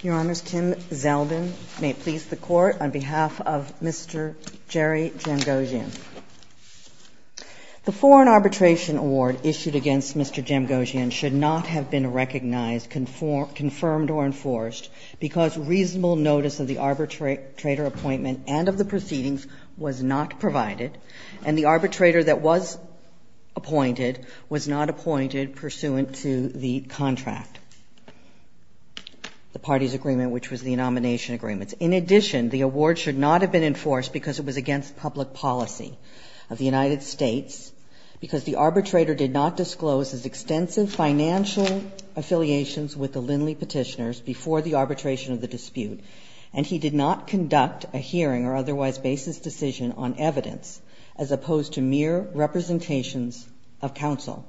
Your Honors, Kim Zeldin may please the Court on behalf of Mr. Jerry Jamgotchian. The Foreign Arbitration Award issued against Mr. Jamgotchian should not have been recognized, confirmed or enforced because reasonable notice of the arbitrator appointment and of the proceedings was not provided and the arbitrator that was appointed was not appointed pursuant to the contract, the party's agreement which was the nomination agreements. In addition, the award should not have been enforced because it was against public policy of the United States because the arbitrator did not disclose his extensive financial affiliations with the Lindley petitioners before the arbitration of the dispute and he did not conduct a hearing or otherwise basis decision on evidence as opposed to mere representations of counsel.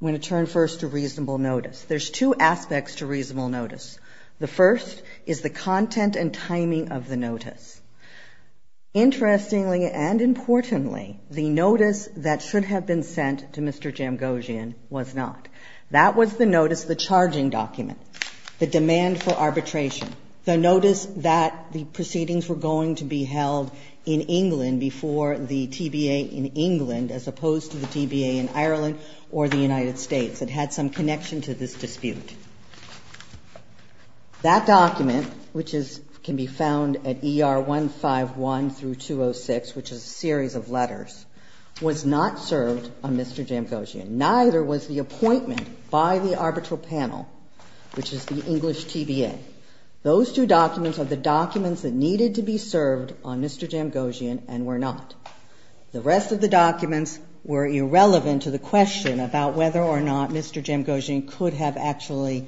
I'm going to turn first to reasonable notice. There's two aspects to reasonable notice. The first is the content and timing of the notice. Interestingly and importantly, the notice that should have been sent to Mr. Jamgotchian was not. That was the notice, the charging document, the demand for arbitration, the notice that the proceedings were going to be held in England before the TBA in England as opposed to the TBA in Ireland or the United States. It had some connection to this dispute. That document, which can be found at ER 151 through 206, which is a series of letters, was not served on Mr. Jamgotchian. Neither was the appointment by the arbitral panel, which is the English TBA. Those two documents are the documents that needed to be served on Mr. Jamgotchian and were not. The rest of the documents were irrelevant to the question about whether or not Mr. Jamgotchian could have actually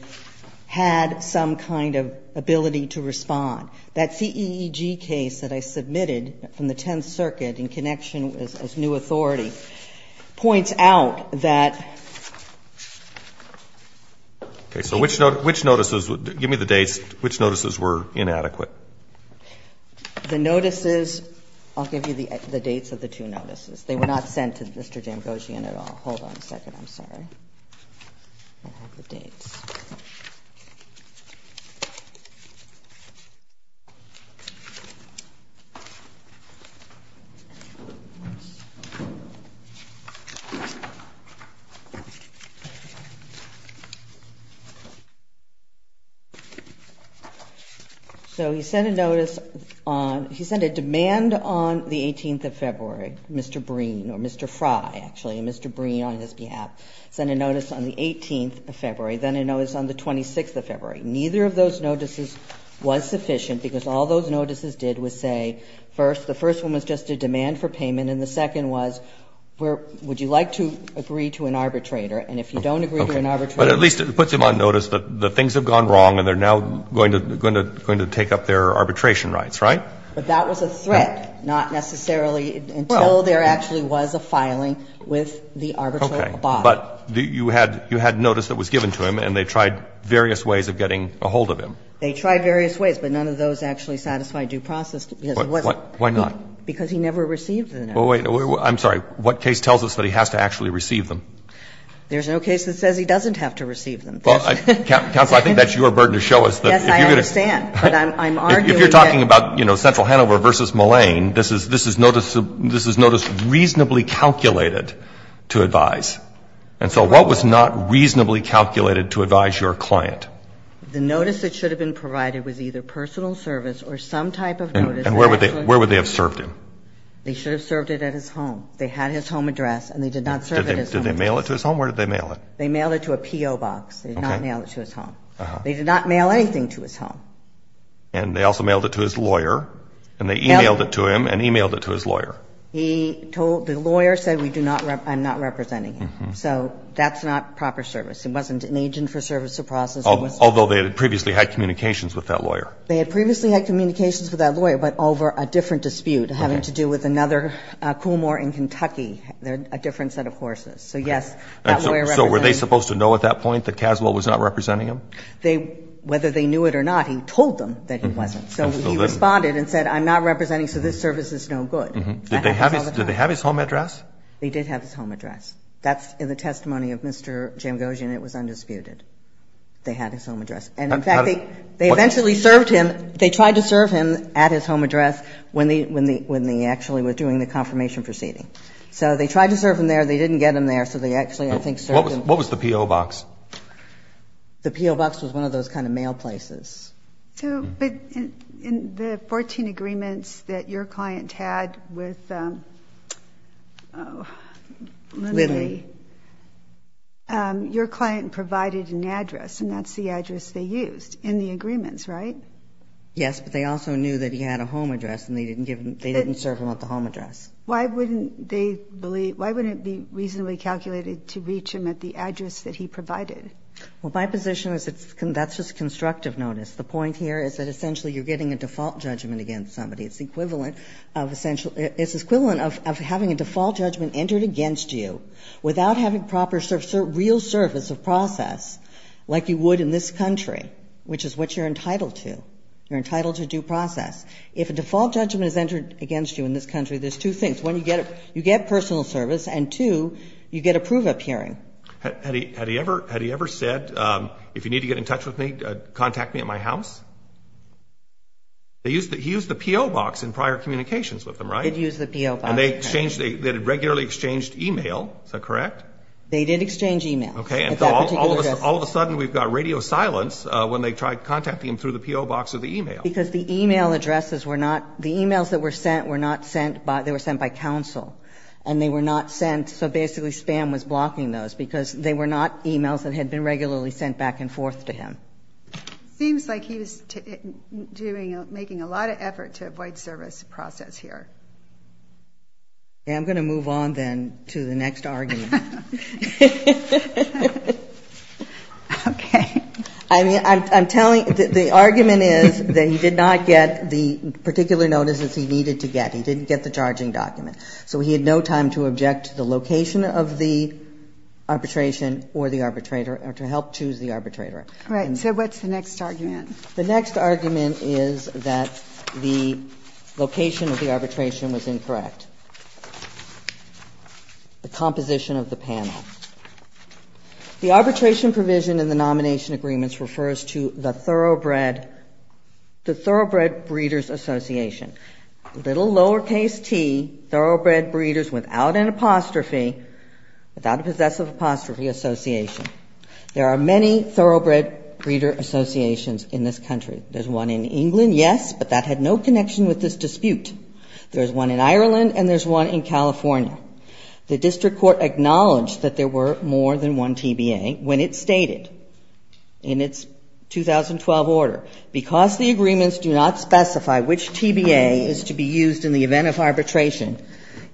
had some kind of ability to respond. That CEEG case that I submitted from the Tenth Circuit in connection as new authority points out that was not served on Mr. Jamgotchian. Okay. So which notices, give me the dates, which notices were inadequate? The notices, I'll give you the dates of the two notices. They were not sent to Mr. Jamgotchian at all. Hold on a second. I'm sorry. I have the dates. So he sent a notice on, he sent a demand on the 18th of February. Mr. Breen, or Mr. Frye, actually, and Mr. Breen on his behalf, sent a notice on the 18th of February, then a notice on the 26th of February. Neither of those notices was sufficient because all those notices did was say, first, the first one was just a demand for payment and the second was, would you like to agree to an arbitrator, and if you don't agree to an arbitrator. But at least it puts him on notice that the things have gone wrong and they're now going to take up their arbitration rights, right? But that was a threat, not necessarily until there actually was a filing with the arbitral body. Okay. But you had notice that was given to him and they tried various ways of getting a hold of him. They tried various ways, but none of those actually satisfied due process because it wasn't. Why not? Because he never received the notice. Well, wait. I'm sorry. What case tells us that he has to actually receive them? There's no case that says he doesn't have to receive them. Counsel, I think that's your burden to show us that if you're going to. Yes, I understand. But I'm arguing that. If you're talking about, you know, Central Hanover v. Moline, this is notice reasonably calculated to advise. And so what was not reasonably calculated to advise your client? The notice that should have been provided was either personal service or some type of notice that actually. And where would they have served him? They should have served it at his home. They had his home address and they did not serve it at his home address. Did they mail it to his home? Where did they mail it? They mailed it to a P.O. box. They did not mail it to his home. They did not mail anything to his home. And they also mailed it to his lawyer. And they e-mailed it to him and e-mailed it to his lawyer. He told the lawyer said we do not, I'm not representing him. So that's not proper service. It wasn't an agent for service to process. Although they had previously had communications with that lawyer. They had previously had communications with that lawyer, but over a different dispute. Having to do with another Coolmore in Kentucky. They're a different set of horses. So, yes. So were they supposed to know at that point that Caswell was not representing him? They, whether they knew it or not, he told them that he wasn't. So he responded and said I'm not representing, so this service is no good. Did they have his home address? They did have his home address. That's in the testimony of Mr. Jamgosian. It was undisputed. They had his home address. And in fact, they eventually served him, they tried to serve him at his home address when they actually were doing the confirmation proceeding. So they tried to serve him there. They didn't get him there. So they actually, I think, served him. What was the P.O. box? The P.O. box was one of those kind of mail places. But in the 14 agreements that your client had with Lindley, your client provided an address, and that's the address they used in the agreements, right? Yes, but they also knew that he had a home address and they didn't give him, they didn't serve him at the home address. Why wouldn't they believe, why wouldn't it be reasonably calculated to reach him at the address that he provided? Well, my position is that's just constructive notice. The point here is that essentially you're getting a default judgment against somebody. It's the equivalent of essential, it's the equivalent of having a default judgment entered against you without having proper, real service of process like you would in this country, which is what you're entitled to. You're entitled to due process. If a default judgment is entered against you in this country, there's two things. One, you get personal service, and two, you get a prove-up hearing. Had he ever said, if you need to get in touch with me, contact me at my house? He used the P.O. box in prior communications with them, right? He did use the P.O. box. And they exchanged, they had regularly exchanged email. Is that correct? They did exchange email at that particular address. All of a sudden, we've got radio silence when they tried contacting him through the P.O. box or the email. Because the email addresses were not, the emails that were sent were not sent by, they were sent by counsel. And they were not sent, so basically spam was blocking those because they were not emails that had been regularly sent back and forth to him. Seems like he was doing, making a lot of effort to avoid service process here. Okay, I'm going to move on then to the next argument. Okay. I mean, I'm telling, the argument is that he did not get the particular notices he needed to get. He didn't get the charging document. So he had no time to object to the location of the arbitration or the arbitrator or to help choose the arbitrator. Right. So what's the next argument? The next argument is that the location of the arbitration was incorrect. The composition of the panel. The arbitration provision in the nomination agreements refers to the thoroughbred, the thoroughbred breeders association. Little lowercase t, thoroughbred breeders without an apostrophe, without a possessive apostrophe association. There are many thoroughbred breeder associations in this country. There's one in England, yes, but that had no connection with this dispute. There's one in Ireland and there's one in California. The district court acknowledged that there were more than one TBA when it stated in its 2012 order, because the agreements do not specify which TBA is to be used in the event of arbitration,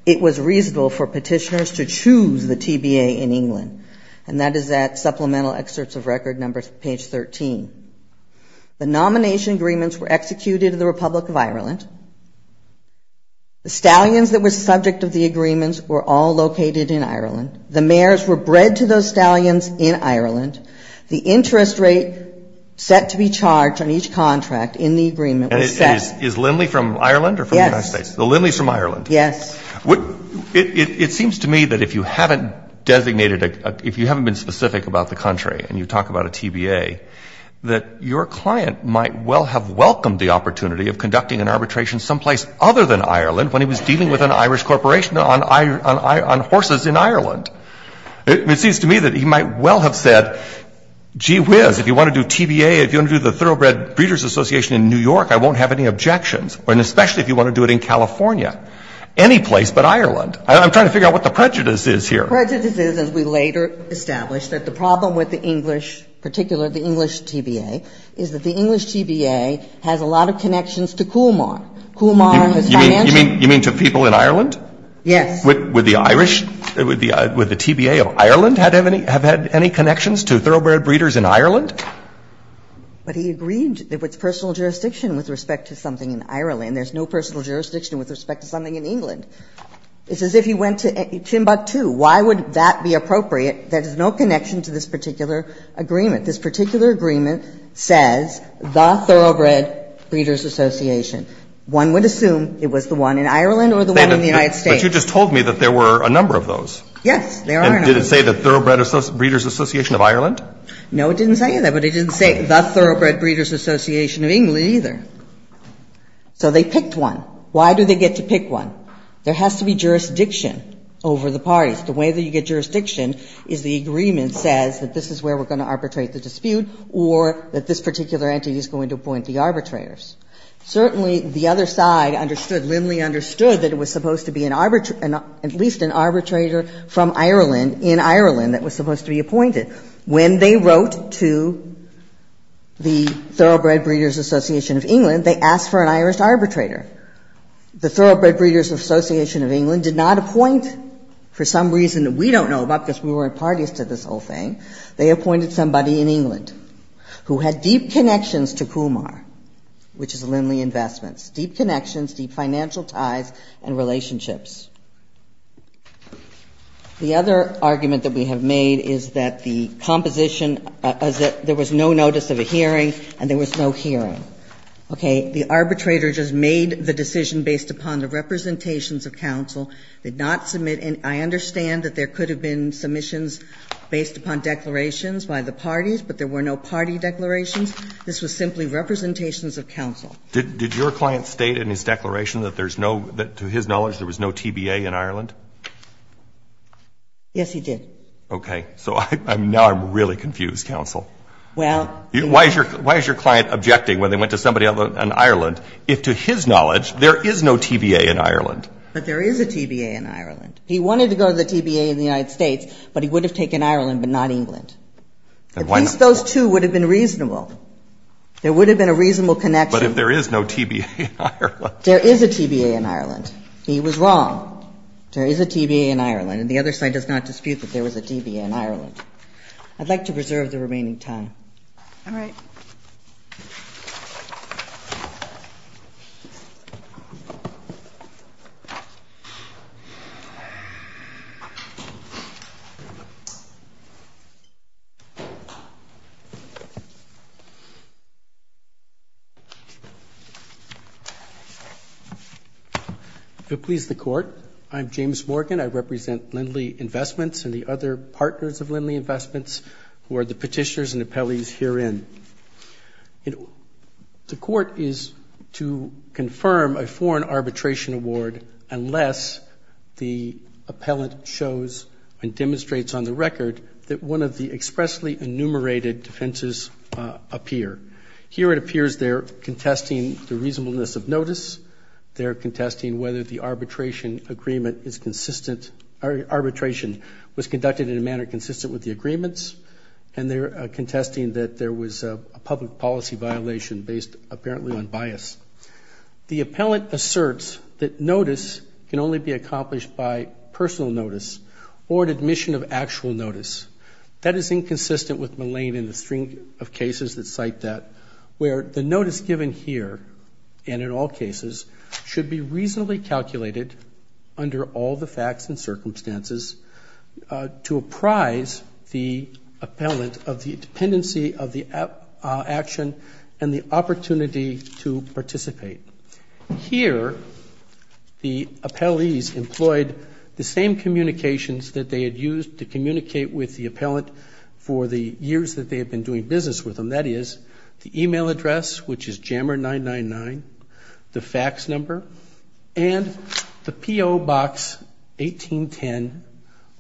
it was reasonable for petitioners to choose the TBA in England, and that is that supplemental excerpts of record number page 13. The nomination agreements were executed in the Republic of Ireland. The stallions that were subject of the agreements were all located in Ireland. The mayors were bred to those stallions in Ireland. The interest rate set to be charged on each contract in the agreement was set. Is Lindley from Ireland or from the United States? The Lindley's from Ireland. Yes. It seems to me that if you haven't designated, if you haven't been specific about the country and you talk about a TBA, that your client might well have welcomed the opportunity of conducting an arbitration someplace other than Ireland when he was dealing with an Irish corporation on horses in Ireland. It seems to me that he might well have said, gee whiz, if you want to do TBA, if you want to do the Thoroughbred Breeders Association in New York, I won't have any objections, and especially if you want to do it in California. Any place but Ireland. I'm trying to figure out what the prejudice is here. Prejudice is, as we later established, that the problem with the English, particularly the English TBA, is that the English TBA has a lot of connections to Coolmar. Coolmar has financial You mean to people in Ireland? Yes. Would the Irish, would the TBA of Ireland have had any connections to Thoroughbred Breeders in Ireland? But he agreed that with personal jurisdiction with respect to something in Ireland, and there's no personal jurisdiction with respect to something in England. It's as if he went to Timbuktu. Why would that be appropriate? There is no connection to this particular agreement. This particular agreement says the Thoroughbred Breeders Association. One would assume it was the one in Ireland or the one in the United States. But you just told me that there were a number of those. Yes, there are a number of those. And did it say the Thoroughbred Breeders Association of Ireland? No, it didn't say that. But it didn't say the Thoroughbred Breeders Association of England either. So they picked one. Why do they get to pick one? There has to be jurisdiction over the parties. The way that you get jurisdiction is the agreement says that this is where we're going to arbitrate the dispute or that this particular entity is going to appoint the arbitrators. Certainly, the other side understood, Lindley understood that it was supposed to be at least an arbitrator from Ireland in Ireland that was supposed to be appointed. When they wrote to the Thoroughbred Breeders Association of England, they asked for an Irish arbitrator. The Thoroughbred Breeders Association of England did not appoint, for some reason that we don't know about because we weren't parties to this whole thing, they appointed somebody in England who had deep connections to Kumar, which is Lindley Investments. Deep connections, deep financial ties and relationships. The other argument that we have made is that the composition is that there was no notice of a hearing and there was no hearing. Okay. The arbitrator just made the decision based upon the representations of counsel, did not submit. And I understand that there could have been submissions based upon declarations by the parties, but there were no party declarations. This was simply representations of counsel. Did your client state in his declaration that there's no, that to his knowledge there was no TBA in Ireland? Yes, he did. Okay. So now I'm really confused, counsel. Well. Why is your client objecting when they went to somebody in Ireland if to his knowledge there is no TBA in Ireland? But there is a TBA in Ireland. He wanted to go to the TBA in the United States, but he would have taken Ireland but not England. At least those two would have been reasonable. There would have been a reasonable connection. But if there is no TBA in Ireland. There is a TBA in Ireland. He was wrong. There is a TBA in Ireland. And the other side does not dispute that there was a TBA in Ireland. I'd like to preserve the remaining time. All right. If it pleases the Court, I'm James Morgan. I represent Lindley Investments and the other partners of Lindley Investments who are the petitioners and appellees herein. The Court is to confirm a foreign arbitration award unless the appellant shows and demonstrates on the record that one of the expressly enumerated defenses appear. Here it appears they're contesting the reasonableness of notice. They're contesting whether the arbitration agreement is consistent or arbitration was conducted in a manner consistent with the agreements. And they're contesting that there was a public policy violation based apparently on bias. The appellant asserts that notice can only be accomplished by personal notice or an admission of actual notice. That is inconsistent with Malane and the string of cases that cite that where the notice given here and in all cases should be reasonably calculated under all the dependency of the action and the opportunity to participate. Here the appellees employed the same communications that they had used to communicate with the appellant for the years that they had been doing business with them. That is the email address, which is jammer999, the fax number, and the P.O. box 1810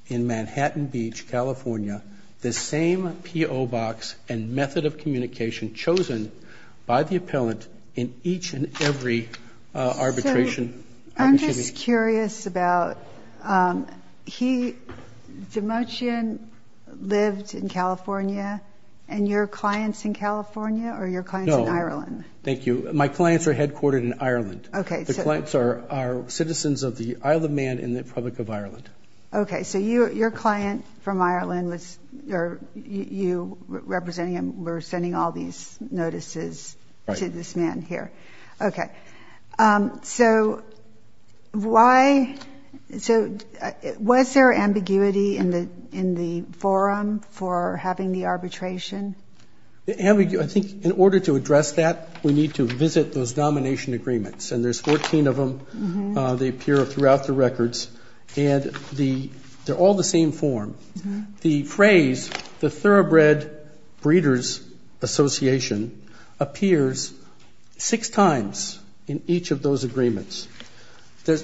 in Manhattan Beach, California, the same P.O. box and method of communication chosen by the appellant in each and every arbitration. So I'm just curious about, he, Demochian lived in California and your clients in California or your clients in Ireland? No, thank you. My clients are headquartered in Ireland. Okay. The clients are citizens of the Isle of Man in the Republic of Ireland. Okay. So your client from Ireland, you representing him, were sending all these notices to this man here. Right. Okay. So why, so was there ambiguity in the forum for having the arbitration? Ambiguity, I think in order to address that we need to visit those nomination agreements. And there's 14 of them. They appear throughout the records. And they're all the same form. The phrase, the Thoroughbred Breeders Association, appears six times in each of those agreements.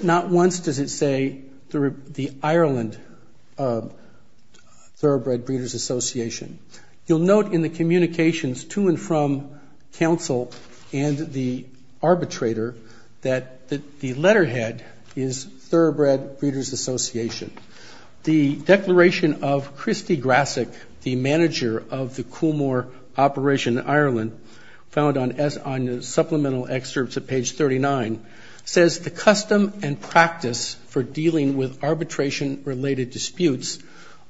Not once does it say the Ireland Thoroughbred Breeders Association. You'll note in the communications to and from counsel and the arbitrator that the letterhead is Thoroughbred Breeders Association. The declaration of Christy Grassic, the manager of the Coolmore operation in Ireland, found on supplemental excerpts at page 39, says the custom and practice for dealing with arbitration-related disputes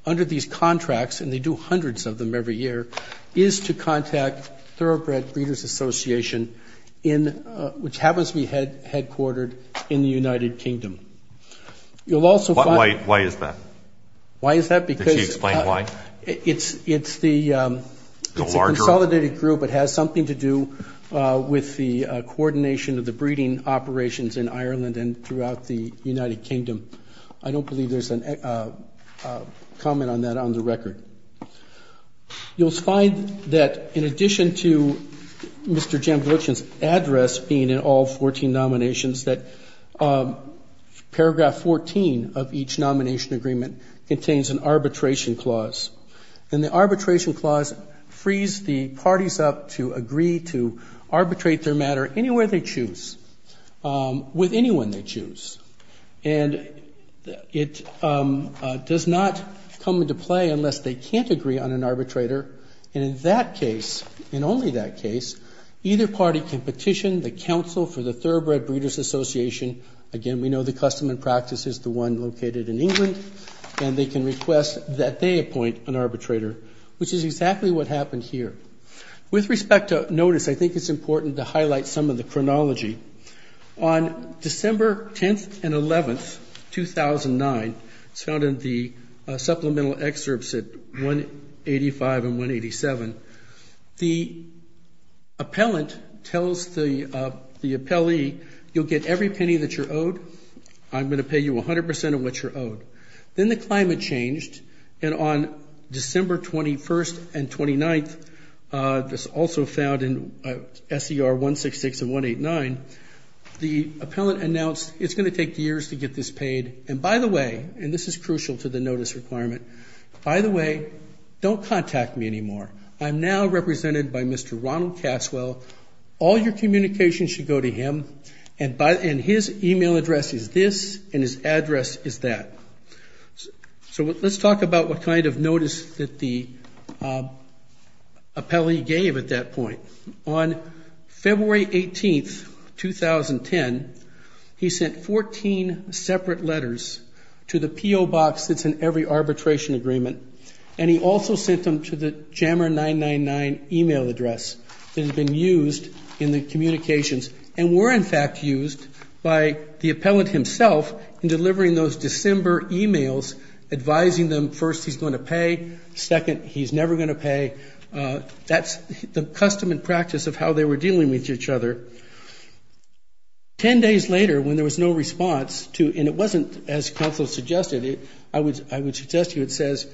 under these of them every year is to contact Thoroughbred Breeders Association, which happens to be headquartered in the United Kingdom. You'll also find- Why is that? Why is that? Because- Could you explain why? It's the- The larger- It's a consolidated group. It has something to do with the coordination of the breeding operations in Ireland and throughout the United Kingdom. I don't believe there's a comment on that on the record. You'll find that in addition to Mr. Jambolichan's address being in all 14 nominations, that paragraph 14 of each nomination agreement contains an arbitration clause. And the arbitration clause frees the parties up to agree to arbitrate their matter anywhere they choose, with anyone they choose. And it does not come into play unless they can't agree on an arbitrator. And in that case, in only that case, either party can petition the council for the Thoroughbred Breeders Association. Again, we know the custom and practice is the one located in England. And they can request that they appoint an arbitrator, which is exactly what happened here. With respect to notice, I think it's important to highlight some of the chronology. On December 10th and 11th, 2009, it's found in the supplemental excerpts at 185 and 187, the appellant tells the appellee, you'll get every penny that you're owed, I'm going to pay you 100% of what you're owed. Then the climate changed, and on December 21st and 29th, this is also found in SER 166 and 189, the appellant announced, it's going to take years to get this paid, and by the way, and this is crucial to the notice requirement, by the way, don't contact me anymore. I'm now represented by Mr. Ronald Caswell. All your communications should go to him, and his email address is this, and his address is that. So let's talk about what kind of notice that the appellee gave at that point. On February 18th, 2010, he sent 14 separate letters to the PO box that's in every arbitration agreement, and he also sent them to the JAMR 999 email address that had been used in the communications, and were in fact used by the appellant himself in delivering those December emails, advising them, first, he's going to pay, second, he's never going to pay. That's the custom and practice of how they were dealing with each other. Ten days later, when there was no response, and it wasn't as counsel suggested, I would suggest to you it says,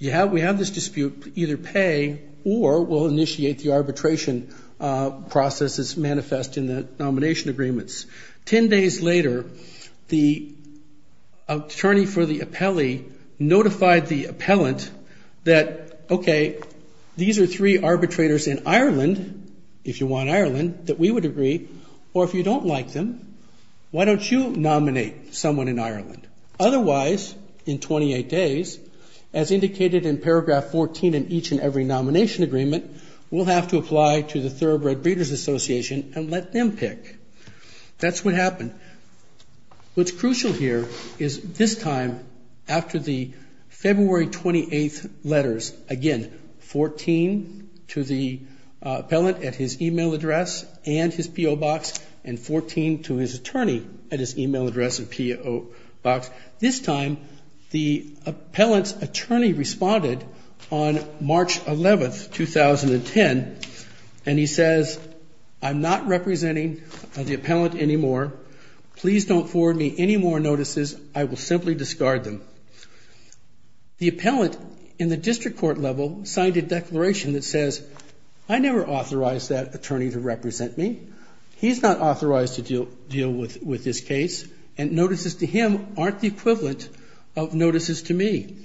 we have this dispute, either pay or we'll initiate the arbitration processes manifest in the nomination agreements. Ten days later, the attorney for the appellee notified the appellant that, okay, these are three arbitrators in Ireland, if you want Ireland, that we would agree, or if you don't like them, why don't you nominate someone in Ireland? Otherwise, in 28 days, as indicated in paragraph 14 in each and every nomination agreement, we'll have to apply to the Thoroughbred Breeders Association and let them pick. That's what happened. What's crucial here is this time, after the February 28th letters, again, 14 to the appellant at his email address and his P.O. box, and 14 to his attorney at his email address and P.O. box, this time the appellant's attorney responded on March 11th, 2010, and he says, I'm not representing the appellant anymore. Please don't forward me any more notices. I will simply discard them. The appellant in the district court level signed a declaration that says, I never authorized that attorney to represent me. He's not authorized to deal with this case, and notices to him aren't the equivalent of notices to me.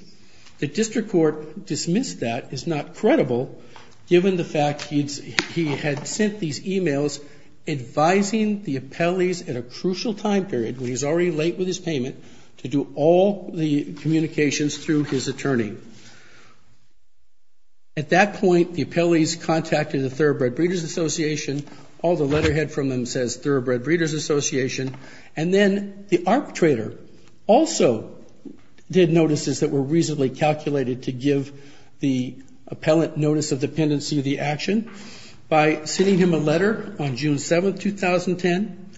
The district court dismissed that as not credible, given the fact he had sent these emails advising the appellees at a crucial time period, when he's already late with his payment, to do all the communications through his attorney. At that point, the appellees contacted the Thoroughbred Breeders Association. All the letterhead from them says Thoroughbred Breeders Association. And then the arbitrator also did notices that were reasonably calculated to give the appellant notice of dependency of the action by sending him a letter on June 7th, 2010.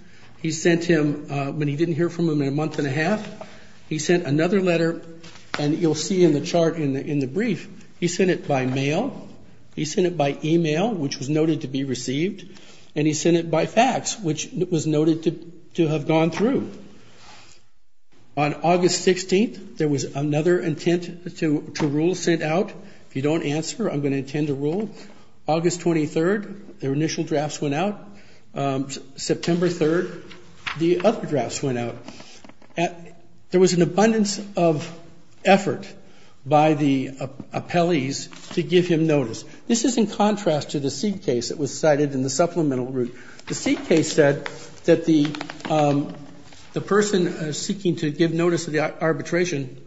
He sent him, but he didn't hear from him in a month and a half. He sent another letter, and you'll see in the chart in the brief, he sent it by mail. He sent it by email, which was noted to be received, and he sent it by fax, which was noted to have gone through. On August 16th, there was another intent to rule sent out. If you don't answer, I'm going to intend to rule. August 23rd, their initial drafts went out. September 3rd, the other drafts went out. There was an abundance of effort by the appellees to give him notice. This is in contrast to the Seed case that was cited in the supplemental route. The Seed case said that the person seeking to give notice of the arbitration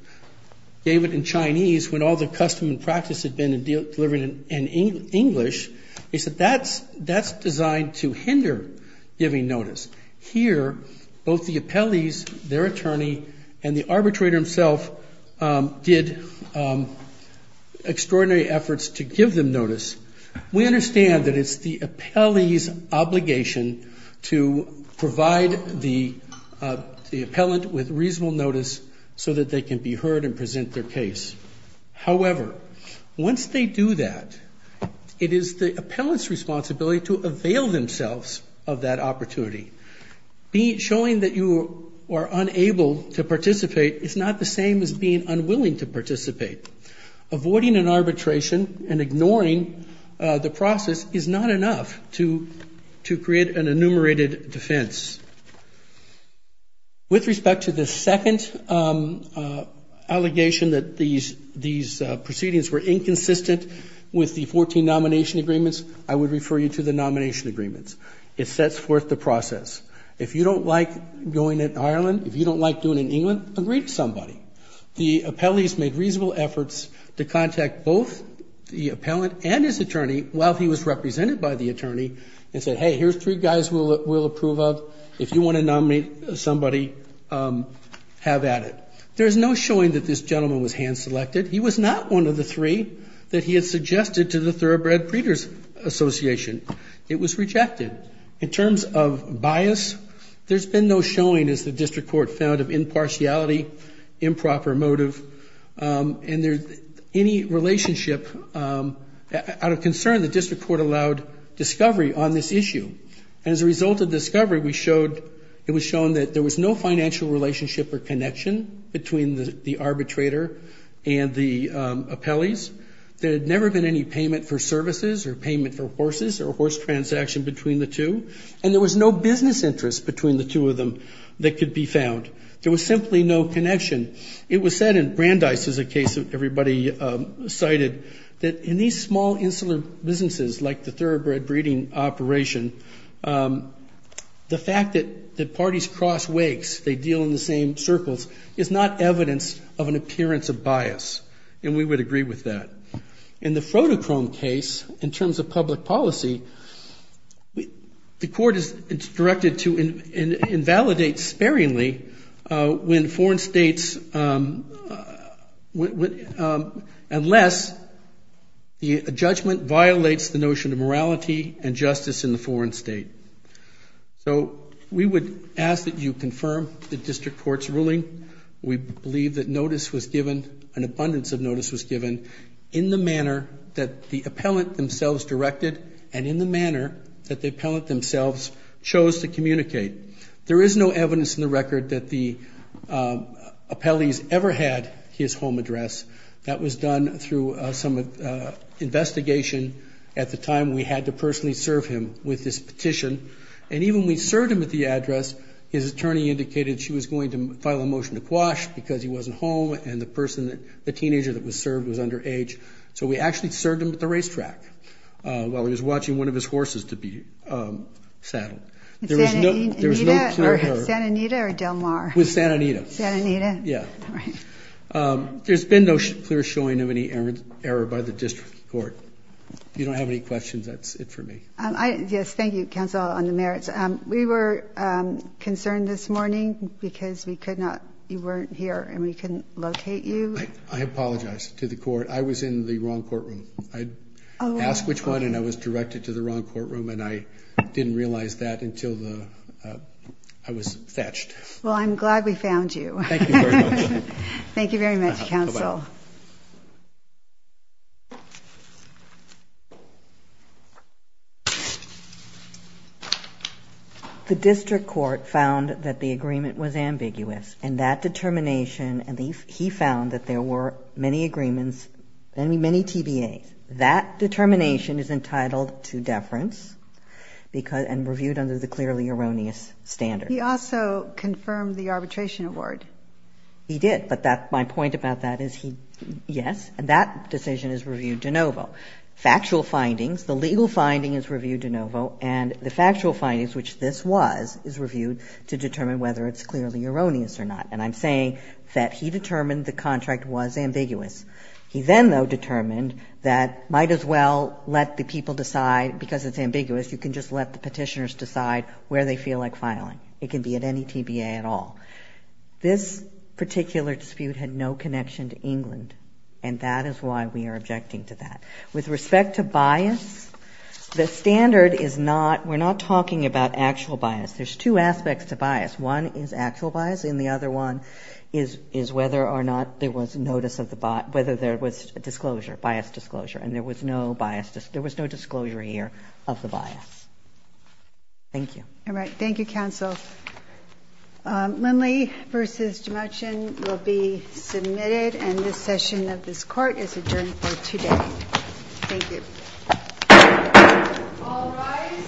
gave it in Chinese when all the custom and practice had been in delivering it in English. They said that's designed to hinder giving notice. Here, both the appellees, their attorney, and the arbitrator himself did extraordinary efforts to give them notice. We understand that it's the appellee's obligation to provide the appellant with reasonable notice so that they can be heard and present their case. However, once they do that, it is the appellant's responsibility to avail themselves of that opportunity. Showing that you are unable to participate is not the same as being unwilling to participate. Avoiding an arbitration and ignoring the process is not enough to create an enumerated defense. With respect to the second allegation that these proceedings were inconsistent with the 14 nomination agreements, I would refer you to the nomination agreements. It sets forth the process. If you don't like going in Ireland, if you don't like doing it in England, agree to somebody. The appellees made reasonable efforts to contact both the appellant and his attorney while he was represented by the attorney and said, hey, here's three guys we'll approve of. If you want to nominate somebody, have at it. There's no showing that this gentleman was hand-selected. He was not one of the three that he had suggested to the Thoroughbred Breeders Association. It was rejected. In terms of bias, there's been no showing, as the district court found, of impartiality, improper motive, and any relationship. Out of concern, the district court allowed discovery on this issue. As a result of discovery, it was shown that there was no financial relationship or connection between the arbitrator and the appellees. There had never been any payment for services or payment for horses or horse transaction between the two. And there was no business interest between the two of them that could be found. There was simply no connection. It was said, and Brandeis is a case that everybody cited, that in these small insular businesses like the thoroughbred breeding operation, the fact that parties cross wakes, they deal in the same circles, is not evidence of an appearance of bias. And we would agree with that. In the Froticrome case, in terms of public policy, the court is instructed to invalidate sparingly when foreign states, unless a judgment violates the notion of morality and justice in the foreign state. So we would ask that you confirm the district court's ruling. We believe that notice was given, an abundance of notice was given, in the manner that the appellant themselves directed and in the manner that the appellant themselves chose to communicate. There is no evidence in the record that the appellees ever had his home address. That was done through some investigation at the time we had to personally serve him with this petition. And even when we served him at the address, his attorney indicated she was going to file a motion to quash because he wasn't home and the teenager that was served was underage. So we actually served him at the racetrack while he was watching one of his horses to be saddled. There was no clear error. With Santa Anita or Del Mar? With Santa Anita. Santa Anita? Yeah. All right. There's been no clear showing of any error by the district court. Yes, thank you, Counsel, on the merits. We were concerned this morning because we could not, you weren't here and we couldn't locate you. I apologize to the court. I was in the wrong courtroom. I asked which one and I was directed to the wrong courtroom and I didn't realize that until I was fetched. Well, I'm glad we found you. Thank you very much. Thank you very much, Counsel. The district court found that the agreement was ambiguous and that determination and he found that there were many agreements, many TBAs. That determination is entitled to deference and reviewed under the clearly erroneous standard. He also confirmed the arbitration award. He did, but my point about that is he, yes, and that decision is reviewed de novo. Factual findings, the legal finding is reviewed de novo and the factual findings, which this was, is reviewed to determine whether it's clearly erroneous or not. And I'm saying that he determined the contract was ambiguous. He then, though, determined that might as well let the people decide, because it's ambiguous, you can just let the Petitioners decide where they feel like filing. It can be at any TBA at all. This particular dispute had no connection to England and that is why we are objecting to that. With respect to bias, the standard is not, we're not talking about actual bias. There's two aspects to bias. One is actual bias and the other one is whether or not there was notice of the, whether there was disclosure, bias disclosure. And there was no bias, there was no disclosure here of the bias. Thank you. All right. Thank you, Counsel. Lindley v. Jemotian will be submitted and this session of this court is adjourned for today. Thank you. All rise.